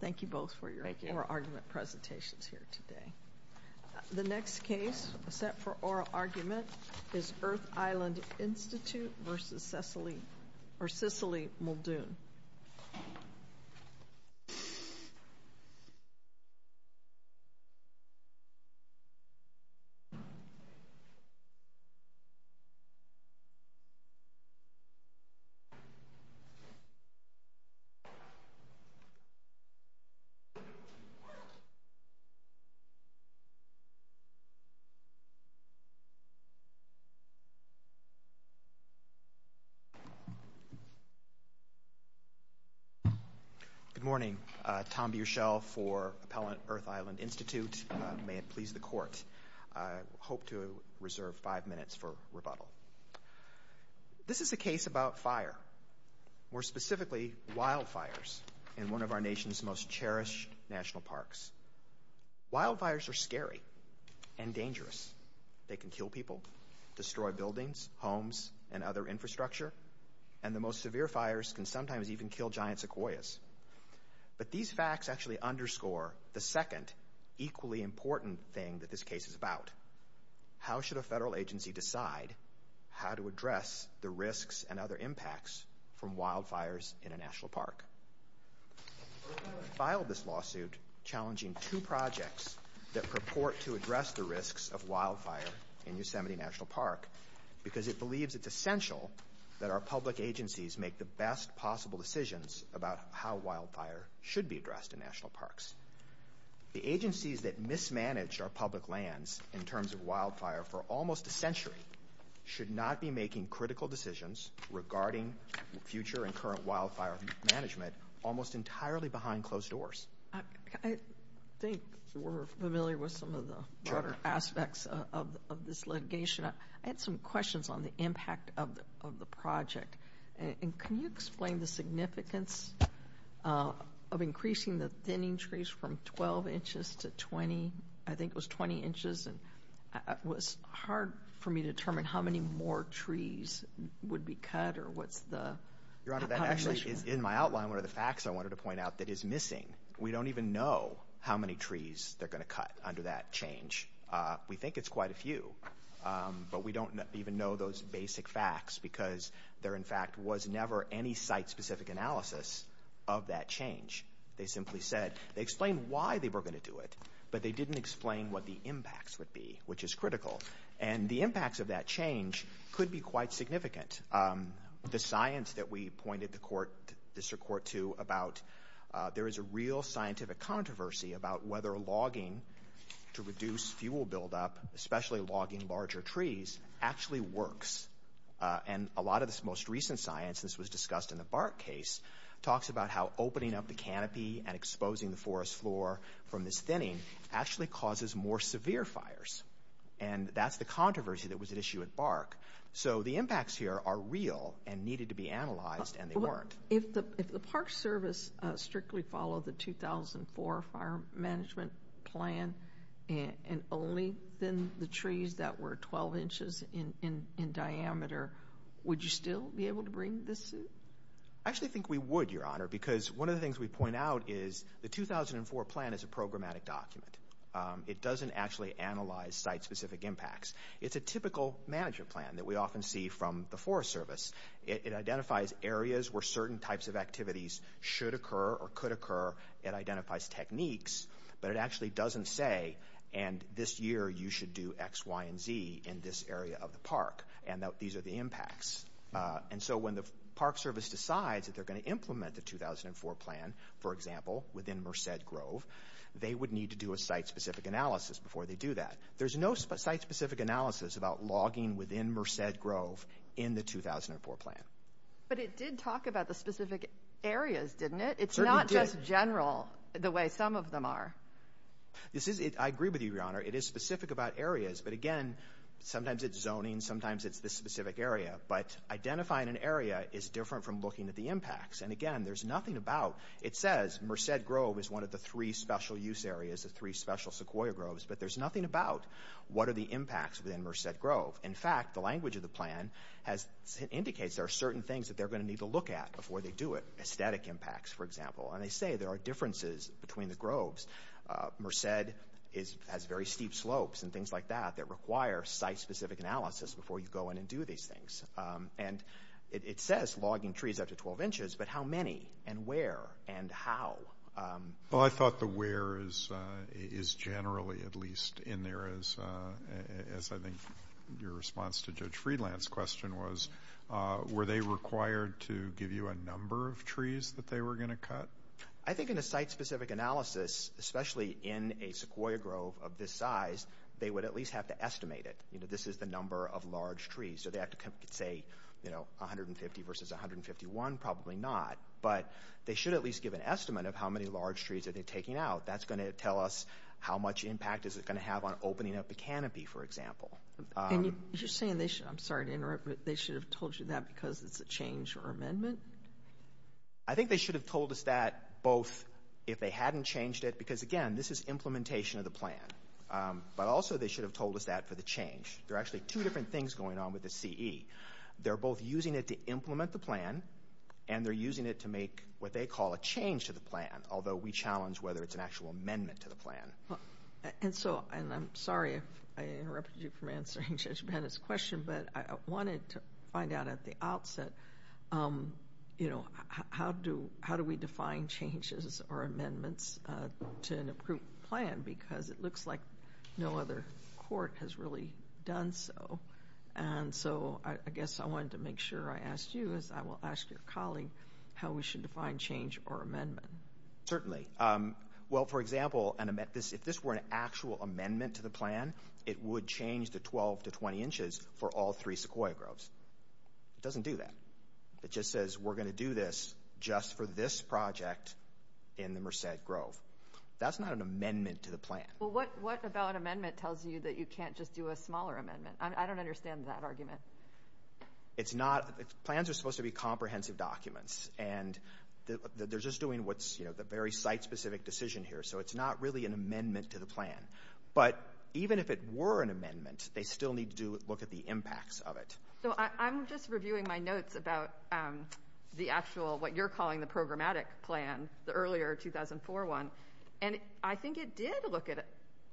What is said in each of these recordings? Thank you both for your oral argument presentations here today. The next case set for oral argument is Earth Island Institute v. Cicely Muldoon. Good morning. Tom Bierschell for Appellant Earth Island Institute. May it please the Court, I hope to reserve five minutes for rebuttal. This is a case about fire, more specifically wildfires in one of our nation's most cherished national parks. Wildfires are scary and dangerous. They can kill people, destroy buildings, homes, and other infrastructure, and the most severe fires can sometimes even kill giant sequoias. But these facts actually underscore the second equally important thing that this case is about. How should a federal agency decide how to address the risks and other impacts from wildfires in a national park? Earth Island filed this lawsuit challenging two projects that purport to address the risks of wildfire in Yosemite National Park because it believes it's essential that our public agencies make the best possible decisions about how wildfire should be addressed in national parks. The agencies that mismanaged our public lands in terms of wildfire for almost a century should not be making critical decisions regarding future and current wildfire management almost entirely behind closed doors. I think we're familiar with some of the broader aspects of this litigation. I had some questions on the impact of the project. Can you explain the significance of increasing the thinning trees from 12 inches to 20? I think it was 20 inches. It was hard for me to determine how many more trees would be cut or what's the combination. Your Honor, that actually is in my outline one of the facts I wanted to point out that is missing. We don't even know how many trees they're going to cut under that change. We think it's quite a few, but we don't even know those basic facts because there, in fact, was never any site-specific analysis of that change. They simply said they explained why they were going to do it, but they didn't explain what the impacts would be, which is critical. And the impacts of that change could be quite significant. The science that we pointed the district court to about there is a real scientific controversy about whether logging to reduce fuel buildup, especially logging larger trees, actually works. And a lot of this most recent science, this was discussed in the bark case, talks about how opening up the canopy and exposing the forest floor from this thinning actually causes more severe fires. And that's the controversy that was at issue at bark. So the impacts here are real and needed to be analyzed, and they weren't. If the Park Service strictly followed the 2004 fire management plan and only thinned the trees that were 12 inches in diameter, would you still be able to bring this suit? I actually think we would, Your Honor, because one of the things we point out is the 2004 plan is a programmatic document. It doesn't actually analyze site-specific impacts. It's a typical management plan that we often see from the Forest Service. It identifies areas where certain types of activities should occur or could occur. It identifies techniques, but it actually doesn't say, and this year you should do X, Y, and Z in this area of the park, and these are the impacts. And so when the Park Service decides that they're going to implement the 2004 plan, for example, within Merced Grove, they would need to do a site-specific analysis before they do that. There's no site-specific analysis about logging within Merced Grove in the 2004 plan. But it did talk about the specific areas, didn't it? It's not just general the way some of them are. I agree with you, Your Honor. It is specific about areas, but again, sometimes it's zoning, sometimes it's this specific area. But identifying an area is different from looking at the impacts, and again, there's nothing about. It says Merced Grove is one of the three special use areas, the three special sequoia groves, but there's nothing about what are the impacts within Merced Grove. In fact, the language of the plan indicates there are certain things that they're going to need to look at before they do it, aesthetic impacts, for example, and they say there are differences between the groves. Merced has very steep slopes and things like that that require site-specific analysis before you go in and do these things. And it says logging trees up to 12 inches, but how many and where and how? Well, I thought the where is generally at least in there, as I think your response to Judge Friedland's question was, were they required to give you a number of trees that they were going to cut? I think in a site-specific analysis, especially in a sequoia grove of this size, they would at least have to estimate it, you know, this is the number of large trees. So they have to say, you know, 150 versus 151, probably not. But they should at least give an estimate of how many large trees are they taking out. That's going to tell us how much impact is it going to have on opening up the canopy, for example. And you're saying they should – I'm sorry to interrupt, but they should have told you that because it's a change or amendment? I think they should have told us that both if they hadn't changed it, because, again, this is implementation of the plan. But also they should have told us that for the change. There are actually two different things going on with the CE. They're both using it to implement the plan, and they're using it to make what they call a change to the plan, although we challenge whether it's an actual amendment to the plan. And so – and I'm sorry if I interrupted you from answering Judge Bennett's question, but I wanted to find out at the outset, you know, how do we define changes or amendments to an approved plan? Because it looks like no other court has really done so. And so I guess I wanted to make sure I asked you, as I will ask your colleague, how we should define change or amendment. Certainly. Well, for example, if this were an actual amendment to the plan, it would change the 12 to 20 inches for all three Sequoia groves. It doesn't do that. It just says we're going to do this just for this project in the Merced Grove. That's not an amendment to the plan. Well, what about amendment tells you that you can't just do a smaller amendment? I don't understand that argument. It's not – plans are supposed to be comprehensive documents, and they're just doing what's, you know, the very site-specific decision here, so it's not really an amendment to the plan. But even if it were an amendment, they still need to look at the impacts of it. So I'm just reviewing my notes about the actual – what you're calling the programmatic plan, the earlier 2004 one, and I think it did look at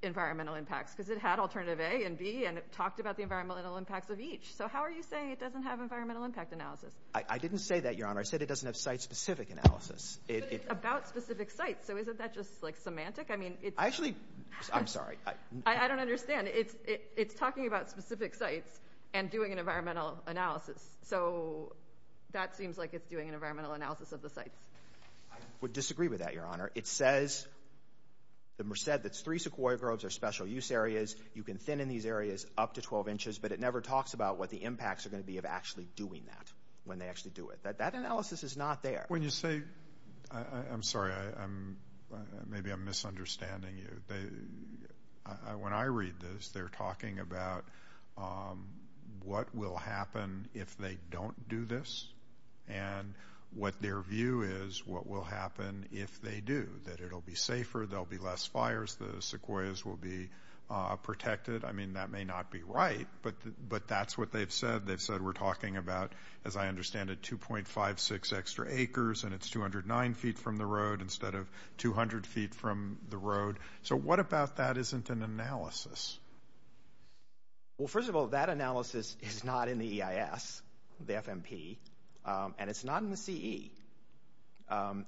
environmental impacts because it had alternative A and B, and it talked about the environmental impacts of each. So how are you saying it doesn't have environmental impact analysis? I didn't say that, Your Honor. I said it doesn't have site-specific analysis. But it's about specific sites, so isn't that just, like, semantic? I mean, it's – I actually – I'm sorry. I don't understand. It's talking about specific sites and doing an environmental analysis, so that seems like it's doing an environmental analysis of the sites. I would disagree with that, Your Honor. It says the Merced that's three sequoia groves are special use areas. You can thin in these areas up to 12 inches, but it never talks about what the impacts are going to be of actually doing that when they actually do it. That analysis is not there. When you say – I'm sorry. Maybe I'm misunderstanding you. When I read this, they're talking about what will happen if they don't do this, and what their view is what will happen if they do, that it'll be safer, there'll be less fires, the sequoias will be protected. I mean, that may not be right, but that's what they've said. They've said we're talking about, as I understand it, 2.56 extra acres, and it's 209 feet from the road instead of 200 feet from the road. So what about that isn't an analysis? Well, first of all, that analysis is not in the EIS, the FMP, and it's not in the CE.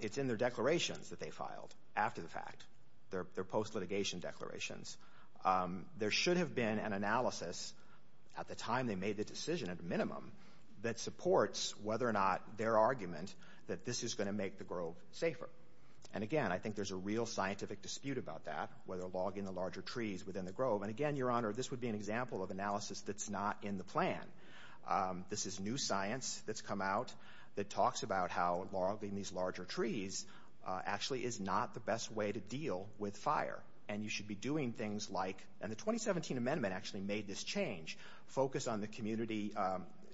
It's in their declarations that they filed after the fact, their post-litigation declarations. There should have been an analysis at the time they made the decision, at a minimum, that supports whether or not their argument that this is going to make the grove safer. And, again, I think there's a real scientific dispute about that, whether logging the larger trees within the grove. And, again, Your Honor, this would be an example of analysis that's not in the plan. This is new science that's come out that talks about how logging these larger trees actually is not the best way to deal with fire. And you should be doing things like, and the 2017 amendment actually made this change, focus on the community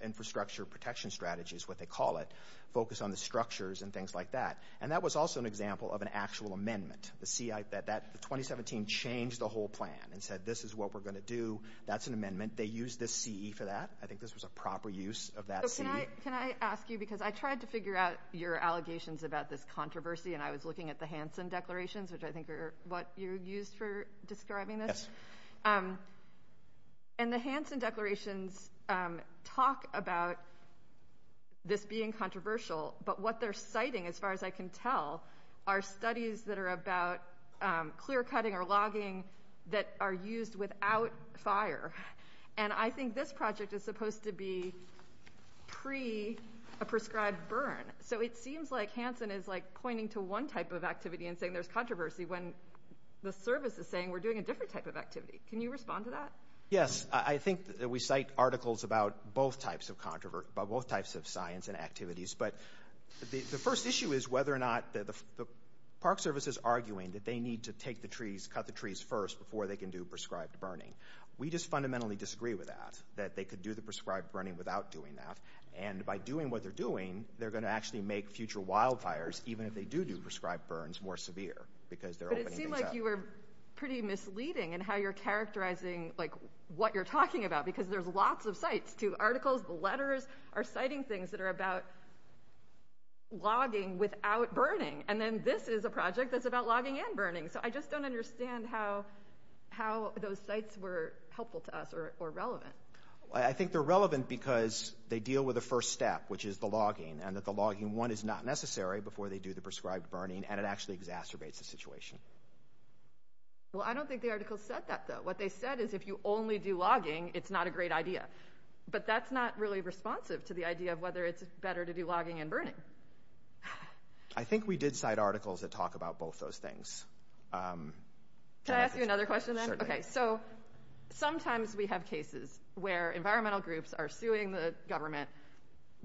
infrastructure protection strategies, what they call it, focus on the structures and things like that. And that was also an example of an actual amendment. The 2017 changed the whole plan and said this is what we're going to do. That's an amendment. They used the CE for that. I think this was a proper use of that CE. Can I ask you, because I tried to figure out your allegations about this controversy, and I was looking at the Hansen declarations, which I think are what you used for describing this. Yes. And the Hansen declarations talk about this being controversial, but what they're citing, as far as I can tell, are studies that are about clear-cutting or logging that are used without fire. And I think this project is supposed to be pre a prescribed burn. So it seems like Hansen is, like, pointing to one type of activity and saying there's controversy when the service is saying we're doing a different type of activity. Can you respond to that? Yes. I think that we cite articles about both types of science and activities. But the first issue is whether or not the park service is arguing that they need to take the trees, cut the trees first before they can do prescribed burning. We just fundamentally disagree with that, that they could do the prescribed burning without doing that. And by doing what they're doing, they're going to actually make future wildfires, even if they do do prescribed burns, more severe because they're opening things up. I think you were pretty misleading in how you're characterizing, like, what you're talking about because there's lots of cites to articles. The letters are citing things that are about logging without burning. And then this is a project that's about logging and burning. So I just don't understand how those cites were helpful to us or relevant. I think they're relevant because they deal with the first step, which is the logging, and that the logging, one, is not necessary before they do the prescribed burning, and it actually exacerbates the situation. Well, I don't think the article said that, though. What they said is if you only do logging, it's not a great idea. But that's not really responsive to the idea of whether it's better to do logging and burning. I think we did cite articles that talk about both those things. Can I ask you another question, then? Certainly. Okay, so sometimes we have cases where environmental groups are suing the government,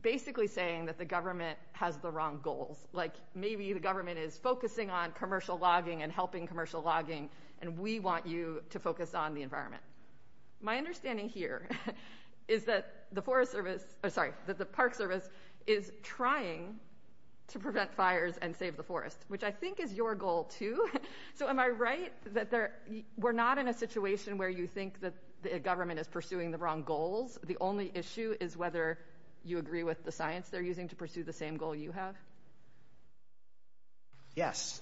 basically saying that the government has the wrong goals. Like maybe the government is focusing on commercial logging and helping commercial logging, and we want you to focus on the environment. My understanding here is that the Park Service is trying to prevent fires and save the forest, which I think is your goal, too. So am I right that we're not in a situation where you think the government is pursuing the wrong goals? The only issue is whether you agree with the science they're using to pursue the same goal you have? Yes.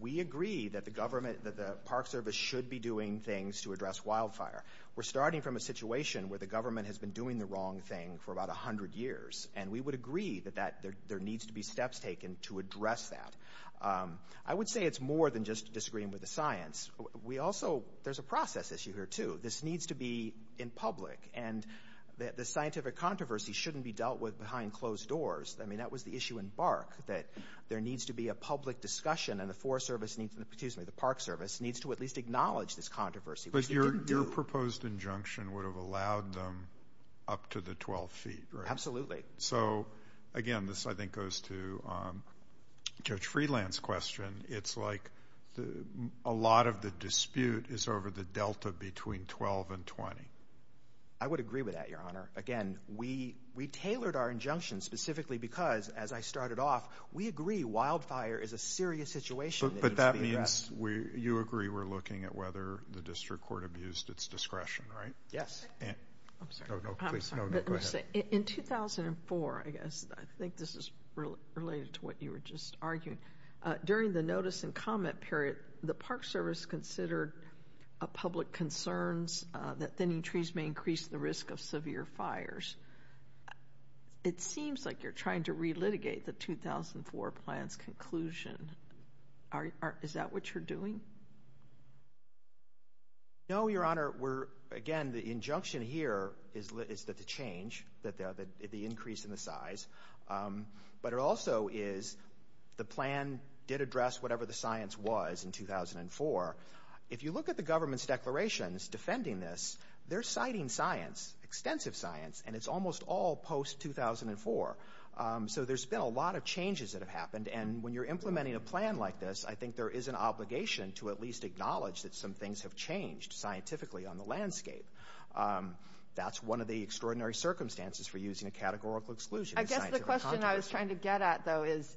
We agree that the Park Service should be doing things to address wildfire. We're starting from a situation where the government has been doing the wrong thing for about 100 years, and we would agree that there needs to be steps taken to address that. I would say it's more than just disagreeing with the science. There's a process issue here, too. This needs to be in public, and the scientific controversy shouldn't be dealt with behind closed doors. I mean, that was the issue in Bark, that there needs to be a public discussion, and the Park Service needs to at least acknowledge this controversy. But your proposed injunction would have allowed them up to the 12 feet, right? Absolutely. So, again, this I think goes to Judge Freeland's question. It's like a lot of the dispute is over the delta between 12 and 20. I would agree with that, Your Honor. Again, we tailored our injunction specifically because, as I started off, we agree wildfire is a serious situation. But that means you agree we're looking at whether the district court abused its discretion, right? Yes. I'm sorry. No, go ahead. In 2004, I guess, I think this is related to what you were just arguing, during the notice and comment period, the Park Service considered public concerns that thinning trees may increase the risk of severe fires. It seems like you're trying to relitigate the 2004 plan's conclusion. Is that what you're doing? No, Your Honor. Again, the injunction here is to change the increase in the size, but it also is the plan did address whatever the science was in 2004. If you look at the government's declarations defending this, they're citing science, extensive science, and it's almost all post-2004. So there's been a lot of changes that have happened. And when you're implementing a plan like this, I think there is an obligation to at least acknowledge that some things have changed scientifically on the landscape. That's one of the extraordinary circumstances for using a categorical exclusion in scientific context. The other question I was trying to get at, though, is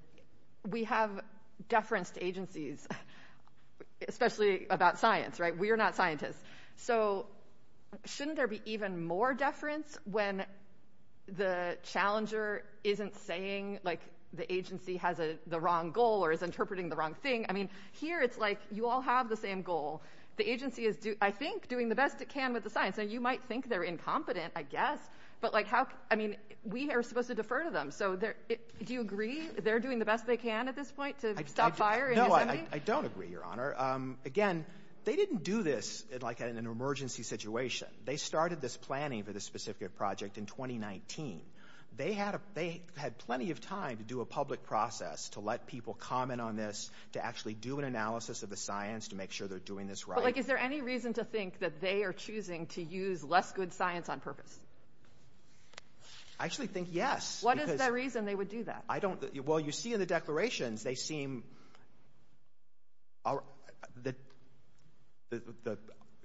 we have deference to agencies, especially about science, right? We are not scientists. So shouldn't there be even more deference when the challenger isn't saying, like, the agency has the wrong goal or is interpreting the wrong thing? I mean, here it's like you all have the same goal. The agency is, I think, doing the best it can with the science. Now, you might think they're incompetent, I guess, but, like, how – I mean, we are supposed to defer to them. So do you agree they're doing the best they can at this point to stop fire in Yosemite? No, I don't agree, Your Honor. Again, they didn't do this, like, in an emergency situation. They started this planning for this specific project in 2019. They had plenty of time to do a public process to let people comment on this, to actually do an analysis of the science to make sure they're doing this right. But, like, is there any reason to think that they are choosing to use less good science on purpose? I actually think yes. What is the reason they would do that? Well, you see in the declarations they seem –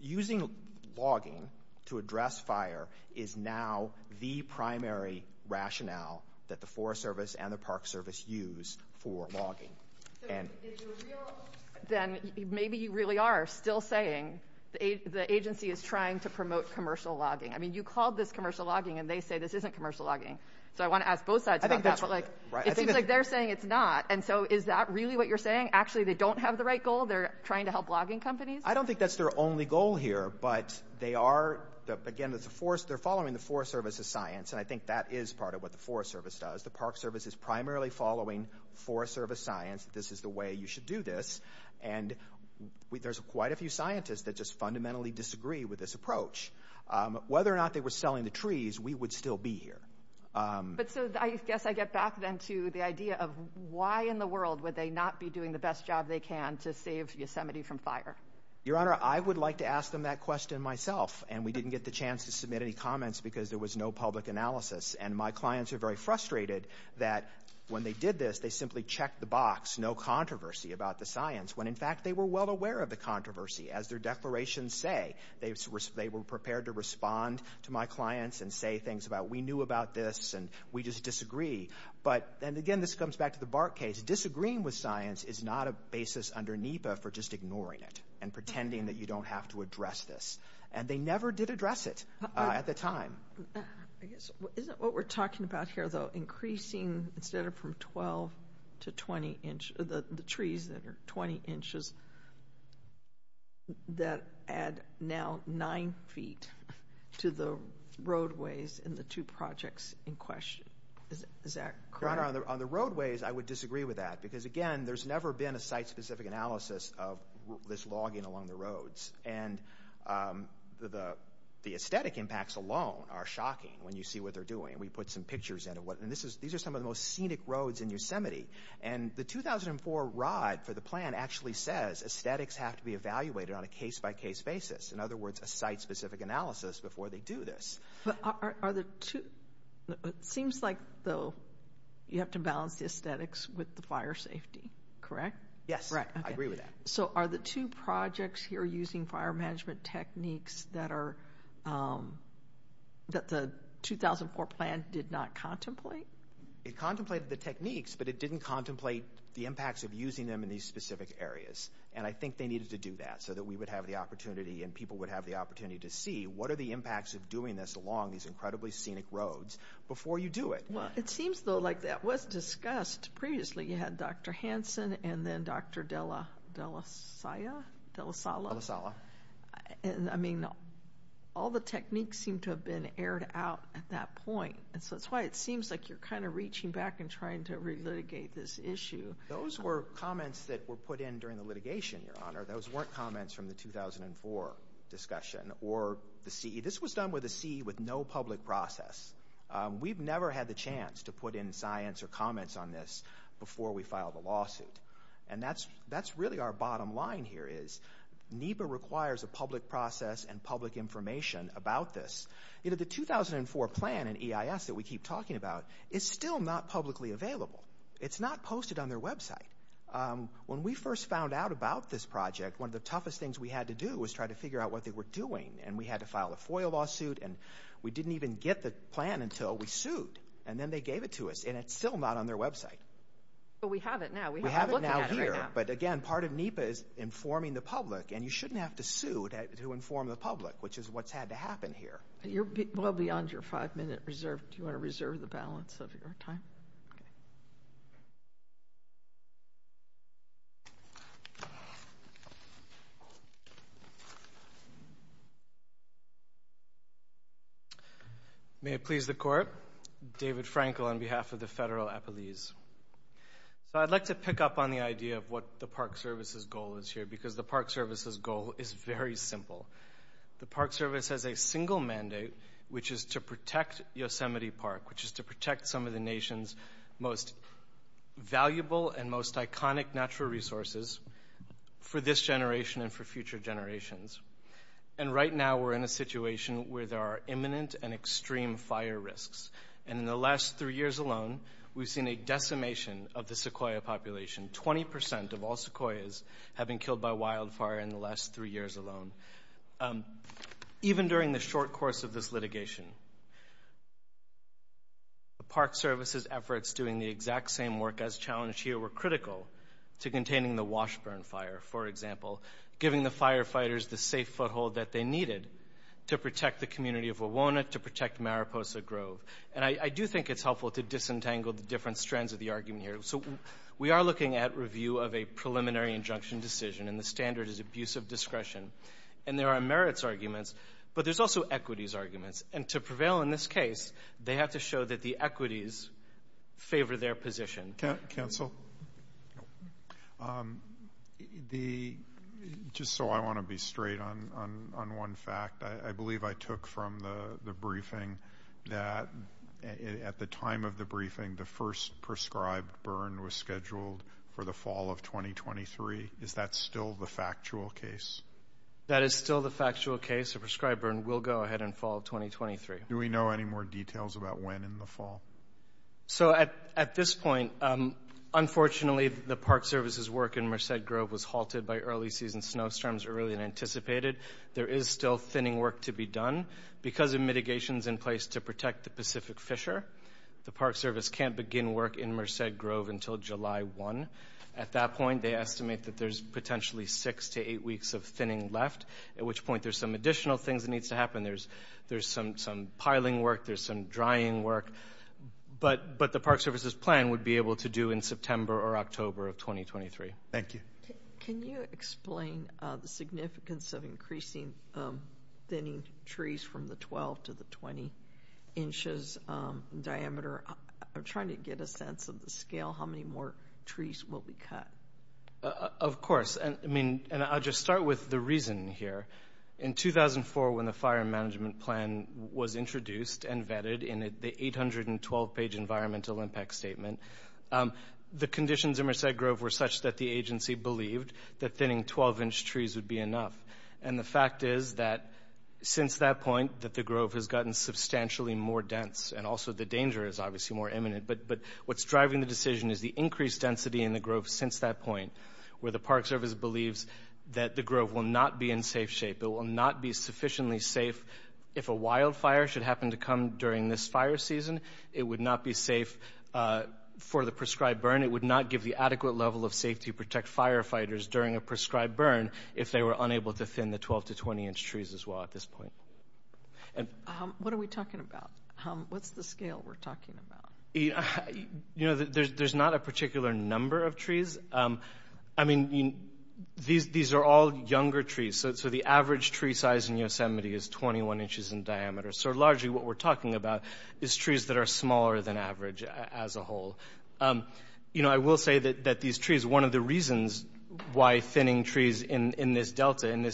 using logging to address fire is now the primary rationale that the Forest Service and the Park Service use for logging. So if you're real, then maybe you really are still saying the agency is trying to promote commercial logging. I mean, you called this commercial logging, and they say this isn't commercial logging. So I want to ask both sides about that. But, like, it seems like they're saying it's not. And so is that really what you're saying? Actually, they don't have the right goal? They're trying to help logging companies? I don't think that's their only goal here. But they are – again, they're following the Forest Service's science, and I think that is part of what the Forest Service does. The Park Service is primarily following Forest Service science. This is the way you should do this. And there's quite a few scientists that just fundamentally disagree with this approach. Whether or not they were selling the trees, we would still be here. But so I guess I get back then to the idea of why in the world would they not be doing the best job they can to save Yosemite from fire? Your Honor, I would like to ask them that question myself, and we didn't get the chance to submit any comments because there was no public analysis. And my clients are very frustrated that when they did this, they simply checked the box, no controversy about the science, when in fact they were well aware of the controversy. As their declarations say, they were prepared to respond to my clients and say things about we knew about this and we just disagree. But – and again, this comes back to the Bark case. Disagreeing with science is not a basis under NEPA for just ignoring it and pretending that you don't have to address this. And they never did address it at the time. Isn't what we're talking about here, though, increasing instead of from 12 to 20 inch, the trees that are 20 inches, that add now 9 feet to the roadways in the two projects in question? Is that correct? Your Honor, on the roadways, I would disagree with that because, again, there's never been a site-specific analysis of this logging along the roads. And the aesthetic impacts alone are shocking when you see what they're doing. We put some pictures in of what – and these are some of the most scenic roads in Yosemite. And the 2004 rod for the plan actually says aesthetics have to be evaluated on a case-by-case basis, in other words, a site-specific analysis before they do this. But are the two – it seems like, though, you have to balance the aesthetics with the fire safety, correct? Yes, I agree with that. So are the two projects here using fire management techniques that the 2004 plan did not contemplate? It contemplated the techniques, but it didn't contemplate the impacts of using them in these specific areas. And I think they needed to do that so that we would have the opportunity and people would have the opportunity to see what are the impacts of doing this along these incredibly scenic roads before you do it. Well, it seems, though, like that was discussed previously. So you had Dr. Hansen and then Dr. Della – Della Sia? Della Sala. Della Sala. And, I mean, all the techniques seem to have been aired out at that point. And so that's why it seems like you're kind of reaching back and trying to relitigate this issue. Those were comments that were put in during the litigation, Your Honor. Those weren't comments from the 2004 discussion or the CE. This was done with a CE with no public process. We've never had the chance to put in science or comments on this before we filed a lawsuit. And that's really our bottom line here is NEPA requires a public process and public information about this. The 2004 plan in EIS that we keep talking about is still not publicly available. It's not posted on their website. When we first found out about this project, one of the toughest things we had to do was try to figure out what they were doing. And we had to file a FOIA lawsuit, and we didn't even get the plan until we sued. And then they gave it to us, and it's still not on their website. But we have it now. We have it now here. But, again, part of NEPA is informing the public, and you shouldn't have to sue to inform the public, which is what's had to happen here. You're well beyond your five-minute reserve. Do you want to reserve the balance of your time? Okay. May it please the Court. David Frankel on behalf of the Federal Appellees. So I'd like to pick up on the idea of what the Park Service's goal is here because the Park Service's goal is very simple. The Park Service has a single mandate, which is to protect Yosemite Park, which is to protect some of the nation's most valuable and most iconic natural resources for this generation and for future generations. And right now we're in a situation where there are imminent and extreme fire risks. And in the last three years alone, we've seen a decimation of the sequoia population. Twenty percent of all sequoias have been killed by wildfire in the last three years alone. Even during the short course of this litigation, the Park Service's efforts doing the exact same work as challenged here were critical to containing the Washburn fire, for example, giving the firefighters the safe foothold that they needed to protect the community of Wawona, to protect Mariposa Grove. And I do think it's helpful to disentangle the different strands of the argument here. So we are looking at review of a preliminary injunction decision, and the standard is abuse of discretion. And there are merits arguments, but there's also equities arguments. And to prevail in this case, they have to show that the equities favor their position. Counsel? Just so I want to be straight on one fact, I believe I took from the briefing that at the time of the briefing, the first prescribed burn was scheduled for the fall of 2023. Is that still the factual case? That is still the factual case. The prescribed burn will go ahead in fall of 2023. Do we know any more details about when in the fall? So at this point, unfortunately, the Park Service's work in Merced Grove was halted by early season snowstorms early and anticipated. There is still thinning work to be done. Because of mitigations in place to protect the Pacific Fisher, the Park Service can't begin work in Merced Grove until July 1. At that point, they estimate that there's potentially six to eight weeks of thinning left, at which point there's some additional things that need to happen. There's some piling work. There's some drying work. But the Park Service's plan would be able to do in September or October of 2023. Thank you. Can you explain the significance of increasing thinning trees from the 12 to the 20 inches diameter? I'm trying to get a sense of the scale. How many more trees will be cut? Of course. And I'll just start with the reason here. In 2004, when the fire management plan was introduced and vetted in the 812-page environmental impact statement, the conditions in Merced Grove were such that the agency believed that thinning 12-inch trees would be enough. And the fact is that since that point, that the grove has gotten substantially more dense, and also the danger is obviously more imminent. But what's driving the decision is the increased density in the grove since that point, where the Park Service believes that the grove will not be in safe shape. It will not be sufficiently safe. If a wildfire should happen to come during this fire season, it would not be safe for the prescribed burn. It would not give the adequate level of safety to protect firefighters during a prescribed burn if they were unable to thin the 12 to 20-inch trees as well at this point. What are we talking about? What's the scale we're talking about? You know, there's not a particular number of trees. I mean, these are all younger trees. So the average tree size in Yosemite is 21 inches in diameter. So largely what we're talking about is trees that are smaller than average as a whole. You know, I will say that these trees, one of the reasons why thinning trees in this delta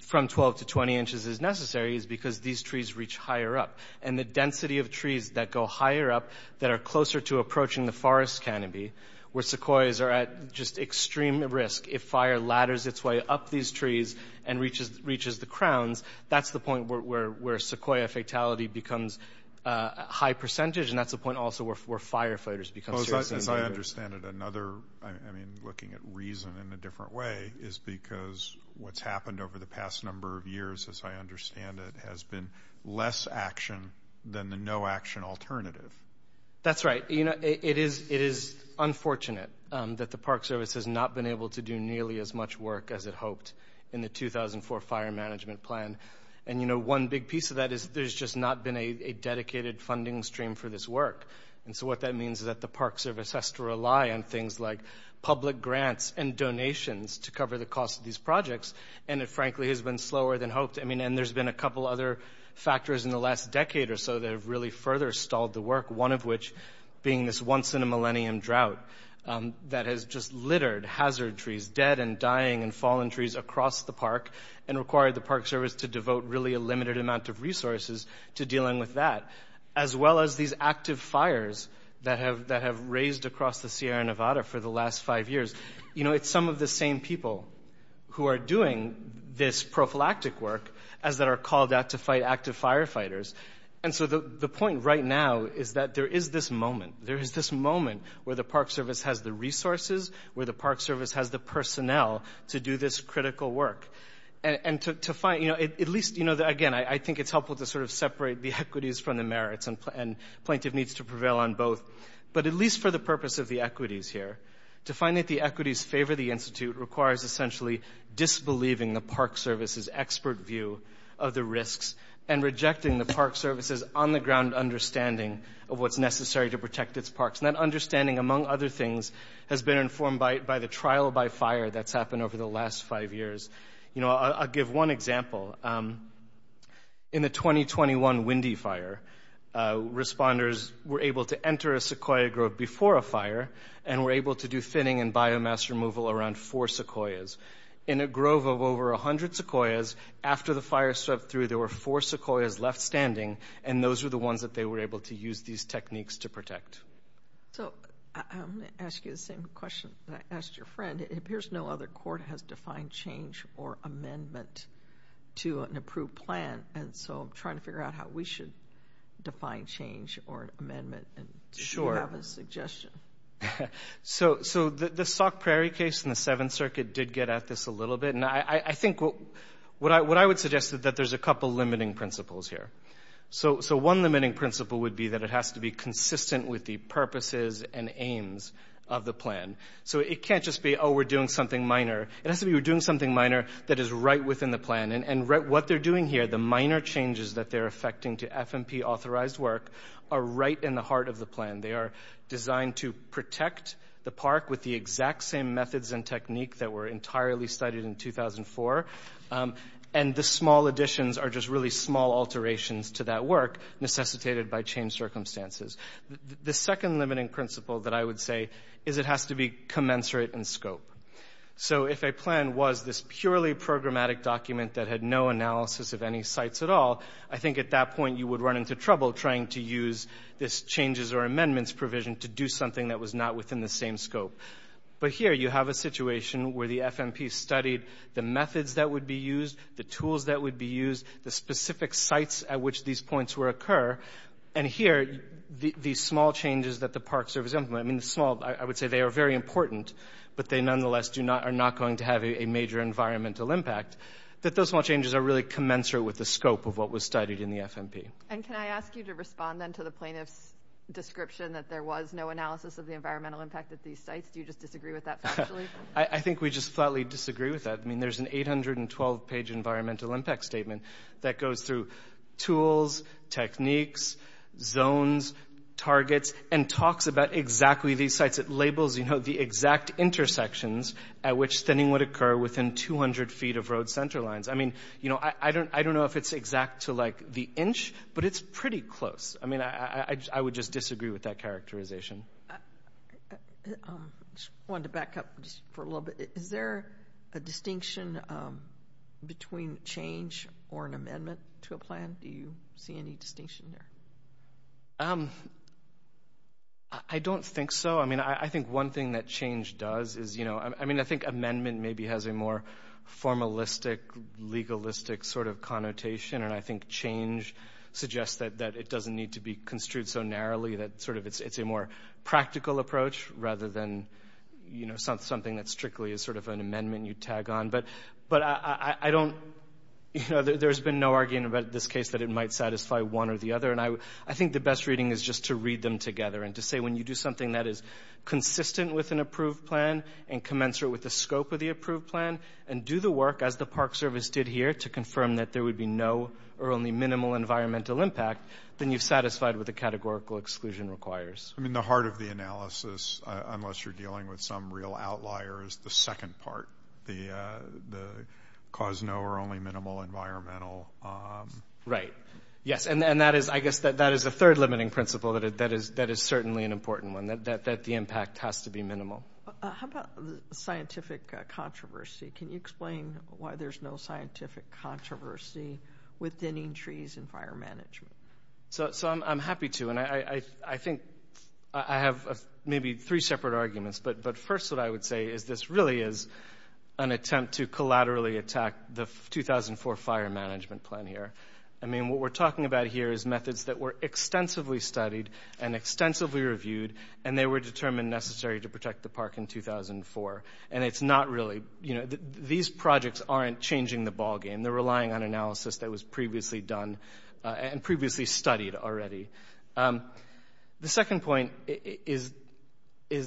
from 12 to 20 inches is necessary is because these trees reach higher up. And the density of trees that go higher up that are closer to approaching the forest canopy, where sequoias are at just extreme risk if fire ladders its way up these trees and reaches the crowns, that's the point where sequoia fatality becomes a high percentage, and that's the point also where firefighters become seriously injured. As I understand it, another, I mean, looking at reason in a different way, is because what's happened over the past number of years, as I understand it, has been less action than the no-action alternative. That's right. You know, it is unfortunate that the Park Service has not been able to do nearly as much work as it hoped in the 2004 fire management plan. And, you know, one big piece of that is there's just not been a dedicated funding stream for this work. And so what that means is that the Park Service has to rely on things like public grants and donations to cover the cost of these projects, and it, frankly, has been slower than hoped. I mean, and there's been a couple other factors in the last decade or so that have really further stalled the work, one of which being this once-in-a-millennium drought that has just littered hazard trees, dead and dying and fallen trees across the park, and required the Park Service to devote really a limited amount of resources to dealing with that, as well as these active fires that have raised across the Sierra Nevada for the last five years. You know, it's some of the same people who are doing this prophylactic work as that are called out to fight active firefighters. And so the point right now is that there is this moment. There is this moment where the Park Service has the resources, where the Park Service has the personnel to do this critical work. And to find, you know, at least, you know, again, I think it's helpful to sort of separate the equities from the merits, and plaintiff needs to prevail on both. But at least for the purpose of the equities here, to find that the equities favor the Institute requires essentially disbelieving the Park Service's expert view of the risks and rejecting the Park Service's on-the-ground understanding of what's necessary to protect its parks. And that understanding, among other things, has been informed by the trial by fire that's happened over the last five years. You know, I'll give one example. In the 2021 Windy Fire, responders were able to enter a sequoia grove before a fire and were able to do thinning and biomass removal around four sequoias. In a grove of over 100 sequoias, after the fire swept through, there were four sequoias left standing, and those were the ones that they were able to use these techniques to protect. So I'm going to ask you the same question that I asked your friend. It appears no other court has defined change or amendment to an approved plan, and so I'm trying to figure out how we should define change or amendment. Sure. Do you have a suggestion? So the Sauk Prairie case in the Seventh Circuit did get at this a little bit, and I think what I would suggest is that there's a couple limiting principles here. So one limiting principle would be that it has to be consistent with the purposes and aims of the plan. So it can't just be, oh, we're doing something minor. It has to be we're doing something minor that is right within the plan, and what they're doing here, the minor changes that they're affecting to FMP-authorized work, are right in the heart of the plan. They are designed to protect the park with the exact same methods and technique that were entirely studied in 2004, and the small additions are just really small alterations to that work necessitated by changed circumstances. The second limiting principle that I would say is it has to be commensurate in scope. So if a plan was this purely programmatic document that had no analysis of any sites at all, I think at that point you would run into trouble trying to use this changes or amendments provision to do something that was not within the same scope. But here you have a situation where the FMP studied the methods that would be used, the tools that would be used, the specific sites at which these points would occur, and here the small changes that the Park Service implemented, I would say they are very important, but they nonetheless are not going to have a major environmental impact, that those small changes are really commensurate with the scope of what was studied in the FMP. And can I ask you to respond then to the plaintiff's description that there was no analysis of the environmental impact at these sites? Do you just disagree with that factually? I think we just flatly disagree with that. I mean, there's an 812-page environmental impact statement that goes through tools, techniques, zones, targets, and talks about exactly these sites. It labels the exact intersections at which thinning would occur within 200 feet of road center lines. I mean, I don't know if it's exact to the inch, but it's pretty close. I mean, I would just disagree with that characterization. I just wanted to back up just for a little bit. Is there a distinction between change or an amendment to a plan? Do you see any distinction there? I don't think so. I mean, I think one thing that change does is, you know, I mean, I think amendment maybe has a more formalistic, legalistic sort of connotation, and I think change suggests that it doesn't need to be construed so narrowly, that sort of it's a more practical approach rather than, you know, something that strictly is sort of an amendment you tag on. But I don't, you know, there's been no argument about this case that it might satisfy one or the other, and I think the best reading is just to read them together and to say, when you do something that is consistent with an approved plan and commensurate with the scope of the approved plan and do the work as the Park Service did here to confirm that there would be no or only minimal environmental impact, then you've satisfied what the categorical exclusion requires. I mean, the heart of the analysis, unless you're dealing with some real outlier, is the second part, the cause no or only minimal environmental. Right. Yes, and that is, I guess, that is a third limiting principle that is certainly an important one, that the impact has to be minimal. How about the scientific controversy? Can you explain why there's no scientific controversy with thinning trees and fire management? So I'm happy to, and I think I have maybe three separate arguments, but first what I would say is this really is an attempt to collaterally attack the 2004 fire management plan here. I mean, what we're talking about here is methods that were extensively studied and extensively reviewed, and they were determined necessary to protect the park in 2004. And it's not really, you know, these projects aren't changing the ballgame. They're relying on analysis that was previously done and previously studied already. The second point is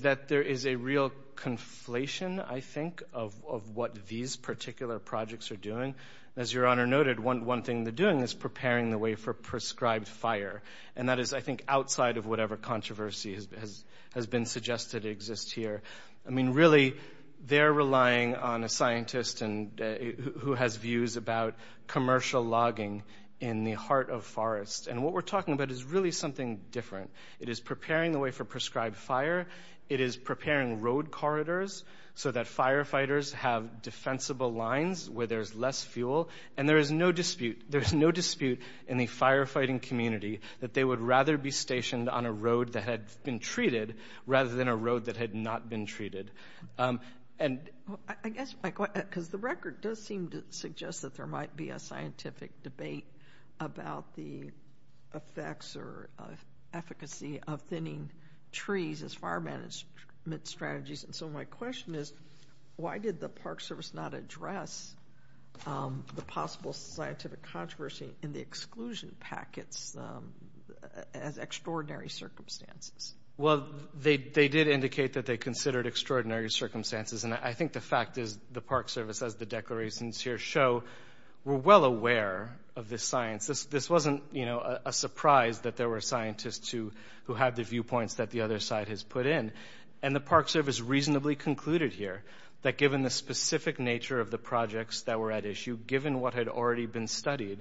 that there is a real conflation, I think, of what these particular projects are doing. As Your Honor noted, one thing they're doing is preparing the way for prescribed fire, and that is, I think, outside of whatever controversy has been suggested exists here. I mean, really, they're relying on a scientist who has views about commercial logging in the heart of forests. And what we're talking about is really something different. It is preparing the way for prescribed fire. It is preparing road corridors so that firefighters have defensible lines where there's less fuel. And there is no dispute in the firefighting community that they would rather be stationed on a road that had been treated rather than a road that had not been treated. I guess, Mike, because the record does seem to suggest that there might be a scientific debate about the effects or efficacy of thinning trees as fire management strategies. And so my question is, why did the Park Service not address the possible scientific controversy in the exclusion packets as extraordinary circumstances? Well, they did indicate that they considered extraordinary circumstances, and I think the fact is the Park Service, as the declarations here show, were well aware of this science. This wasn't, you know, a surprise that there were scientists who had the viewpoints that the other side has put in. And the Park Service reasonably concluded here that given the specific nature of the projects that were at issue, given what had already been studied,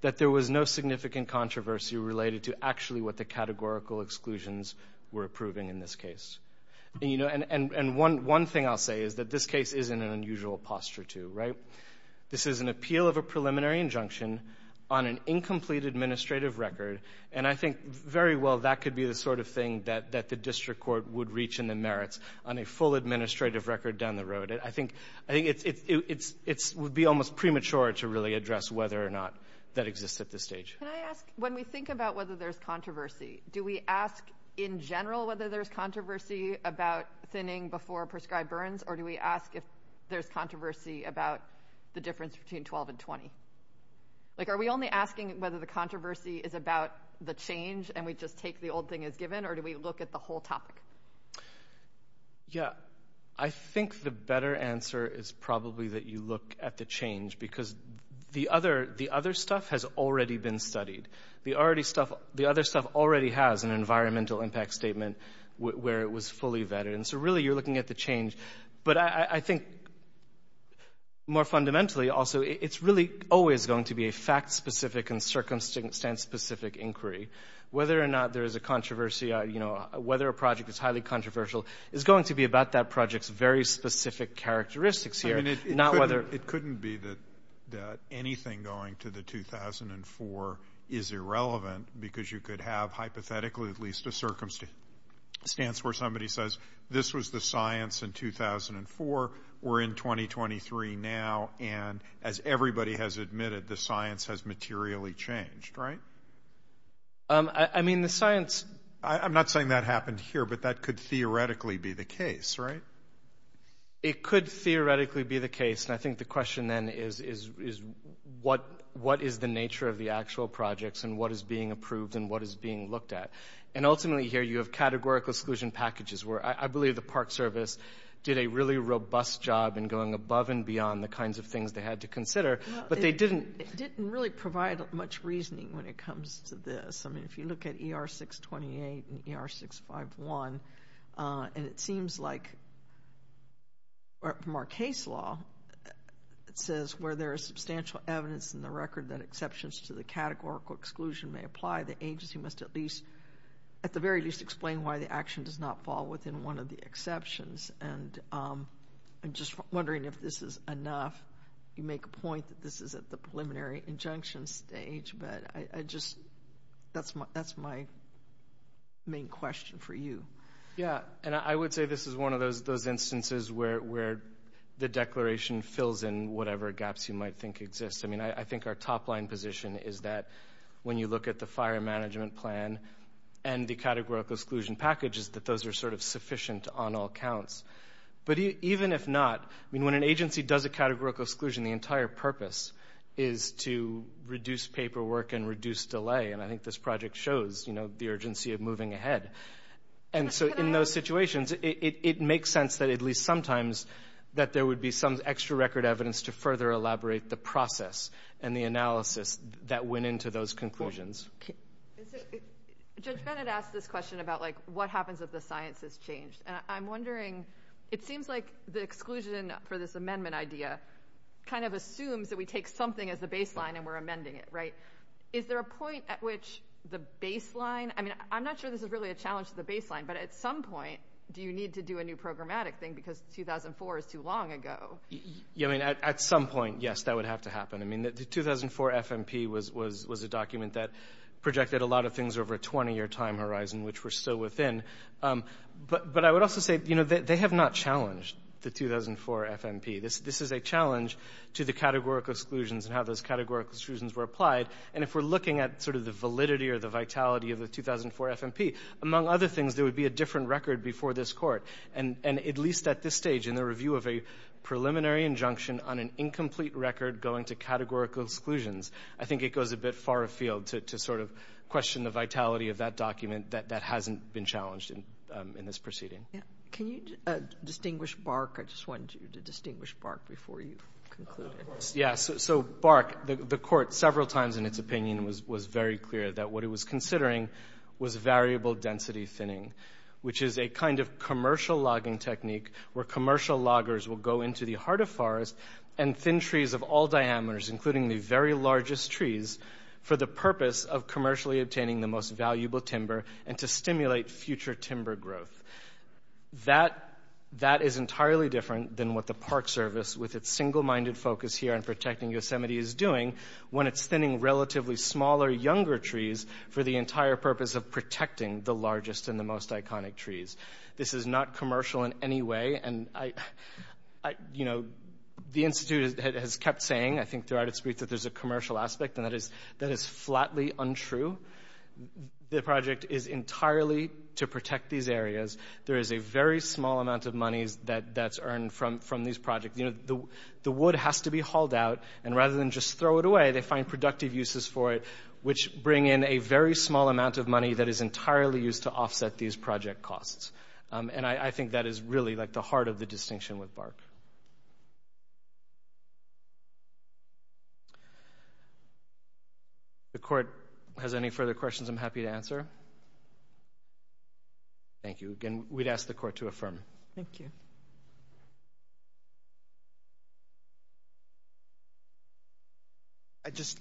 that there was no significant controversy related to actually what the categorical exclusions were approving in this case. And, you know, and one thing I'll say is that this case is in an unusual posture, too, right? This is an appeal of a preliminary injunction on an incomplete administrative record, and I think very well that could be the sort of thing that the district court would reach in the merits on a full administrative record down the road. But I think it would be almost premature to really address whether or not that exists at this stage. Can I ask, when we think about whether there's controversy, do we ask in general whether there's controversy about thinning before prescribed burns, or do we ask if there's controversy about the difference between 12 and 20? Like, are we only asking whether the controversy is about the change and we just take the old thing as given, or do we look at the whole topic? Yeah, I think the better answer is probably that you look at the change, because the other stuff has already been studied. The other stuff already has an environmental impact statement where it was fully vetted, and so really you're looking at the change. But I think more fundamentally, also, it's really always going to be a fact-specific and circumstance-specific inquiry. Whether or not there is a controversy, you know, whether a project is highly controversial is going to be about that project's very specific characteristics here. I mean, it couldn't be that anything going to the 2004 is irrelevant because you could have, hypothetically, at least a circumstance where somebody says, this was the science in 2004, we're in 2023 now, and as everybody has admitted, the science has materially changed, right? I mean, the science – I'm not saying that happened here, but that could theoretically be the case, right? It could theoretically be the case, and I think the question then is what is the nature of the actual projects and what is being approved and what is being looked at? And ultimately here you have categorical exclusion packages where I believe the Park Service did a really robust job in going above and beyond the kinds of things they had to consider, but they didn't – It didn't really provide much reasoning when it comes to this. I mean, if you look at ER-628 and ER-651, and it seems like from our case law it says, where there is substantial evidence in the record that exceptions to the categorical exclusion may apply, the agency must at least, at the very least, explain why the action does not fall within one of the exceptions. And I'm just wondering if this is enough. You make a point that this is at the preliminary injunction stage, but I just – that's my main question for you. Yeah, and I would say this is one of those instances where the declaration fills in whatever gaps you might think exist. I mean, I think our top-line position is that when you look at the fire management plan and the categorical exclusion package is that those are sort of sufficient on all counts. But even if not, I mean, when an agency does a categorical exclusion, the entire purpose is to reduce paperwork and reduce delay, and I think this project shows the urgency of moving ahead. And so in those situations, it makes sense that at least sometimes that there would be some extra record evidence to further elaborate the process and the analysis that went into those conclusions. Judge Bennett asked this question about, like, what happens if the science is changed. And I'm wondering, it seems like the exclusion for this amendment idea kind of assumes that we take something as the baseline and we're amending it, right? Is there a point at which the baseline – I mean, I'm not sure this is really a challenge to the baseline, but at some point do you need to do a new programmatic thing because 2004 is too long ago? Yeah, I mean, at some point, yes, that would have to happen. I mean, the 2004 FMP was a document that projected a lot of things over a 20-year time horizon, which we're still within. But I would also say, you know, they have not challenged the 2004 FMP. This is a challenge to the categorical exclusions and how those categorical exclusions were applied. And if we're looking at sort of the validity or the vitality of the 2004 FMP, among other things, there would be a different record before this Court, and at least at this stage in the review of a preliminary injunction on an incomplete record going to categorical exclusions, I think it goes a bit far afield to sort of question the vitality of that document that hasn't been challenged in this proceeding. Can you distinguish BARC? I just wanted you to distinguish BARC before you concluded. Yeah, so BARC, the Court several times in its opinion was very clear that what it was considering was variable density thinning, which is a kind of commercial logging technique where commercial loggers will go into the heart of forest and thin trees of all diameters, including the very largest trees, for the purpose of commercially obtaining the most valuable timber and to stimulate future timber growth. That is entirely different than what the Park Service, with its single-minded focus here on protecting Yosemite, is doing when it's thinning relatively smaller, younger trees for the entire purpose of protecting the largest and the most iconic trees. This is not commercial in any way. And, you know, the Institute has kept saying, I think, throughout its briefs, that there's a commercial aspect, and that is flatly untrue. The project is entirely to protect these areas. There is a very small amount of money that's earned from these projects. You know, the wood has to be hauled out, and rather than just throw it away, they find productive uses for it, which bring in a very small amount of money that is entirely used to offset these project costs. And I think that is really, like, the heart of the distinction with BARC. If the court has any further questions, I'm happy to answer. Thank you. Again, we'd ask the court to affirm. Thank you.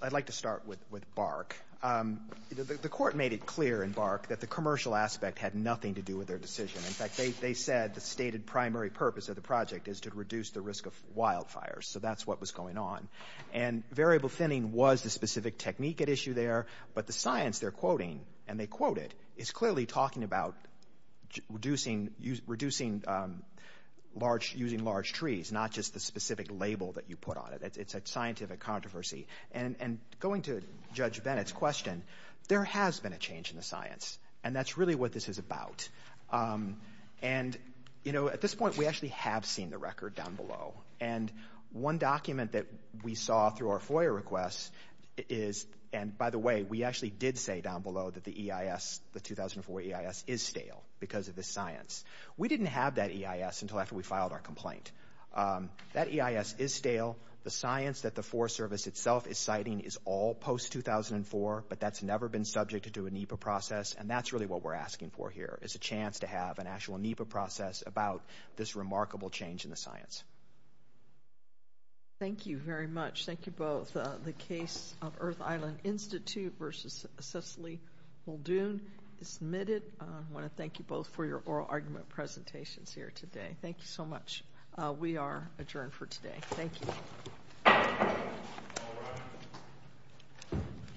I'd like to start with BARC. The court made it clear in BARC that the commercial aspect had nothing to do with their decision. In fact, they said the stated primary purpose of the project is to reduce the risk of wildfires. So that's what was going on. And variable thinning was the specific technique at issue there, but the science they're quoting, and they quote it, is clearly talking about reducing using large trees, not just the specific label that you put on it. It's a scientific controversy. And going to Judge Bennett's question, there has been a change in the science, and that's really what this is about. And, you know, at this point we actually have seen the record down below. And one document that we saw through our FOIA requests is, and by the way, we actually did say down below that the EIS, the 2004 EIS, is stale because of this science. We didn't have that EIS until after we filed our complaint. That EIS is stale. The science that the Forest Service itself is citing is all post-2004, but that's never been subjected to a NEPA process, and that's really what we're asking for here, is a chance to have an actual NEPA process about this remarkable change in the science. Thank you very much. Thank you both. The case of Earth Island Institute versus Cecily Muldoon is submitted. I want to thank you both for your oral argument presentations here today. Thank you so much. We are adjourned for today. Thank you.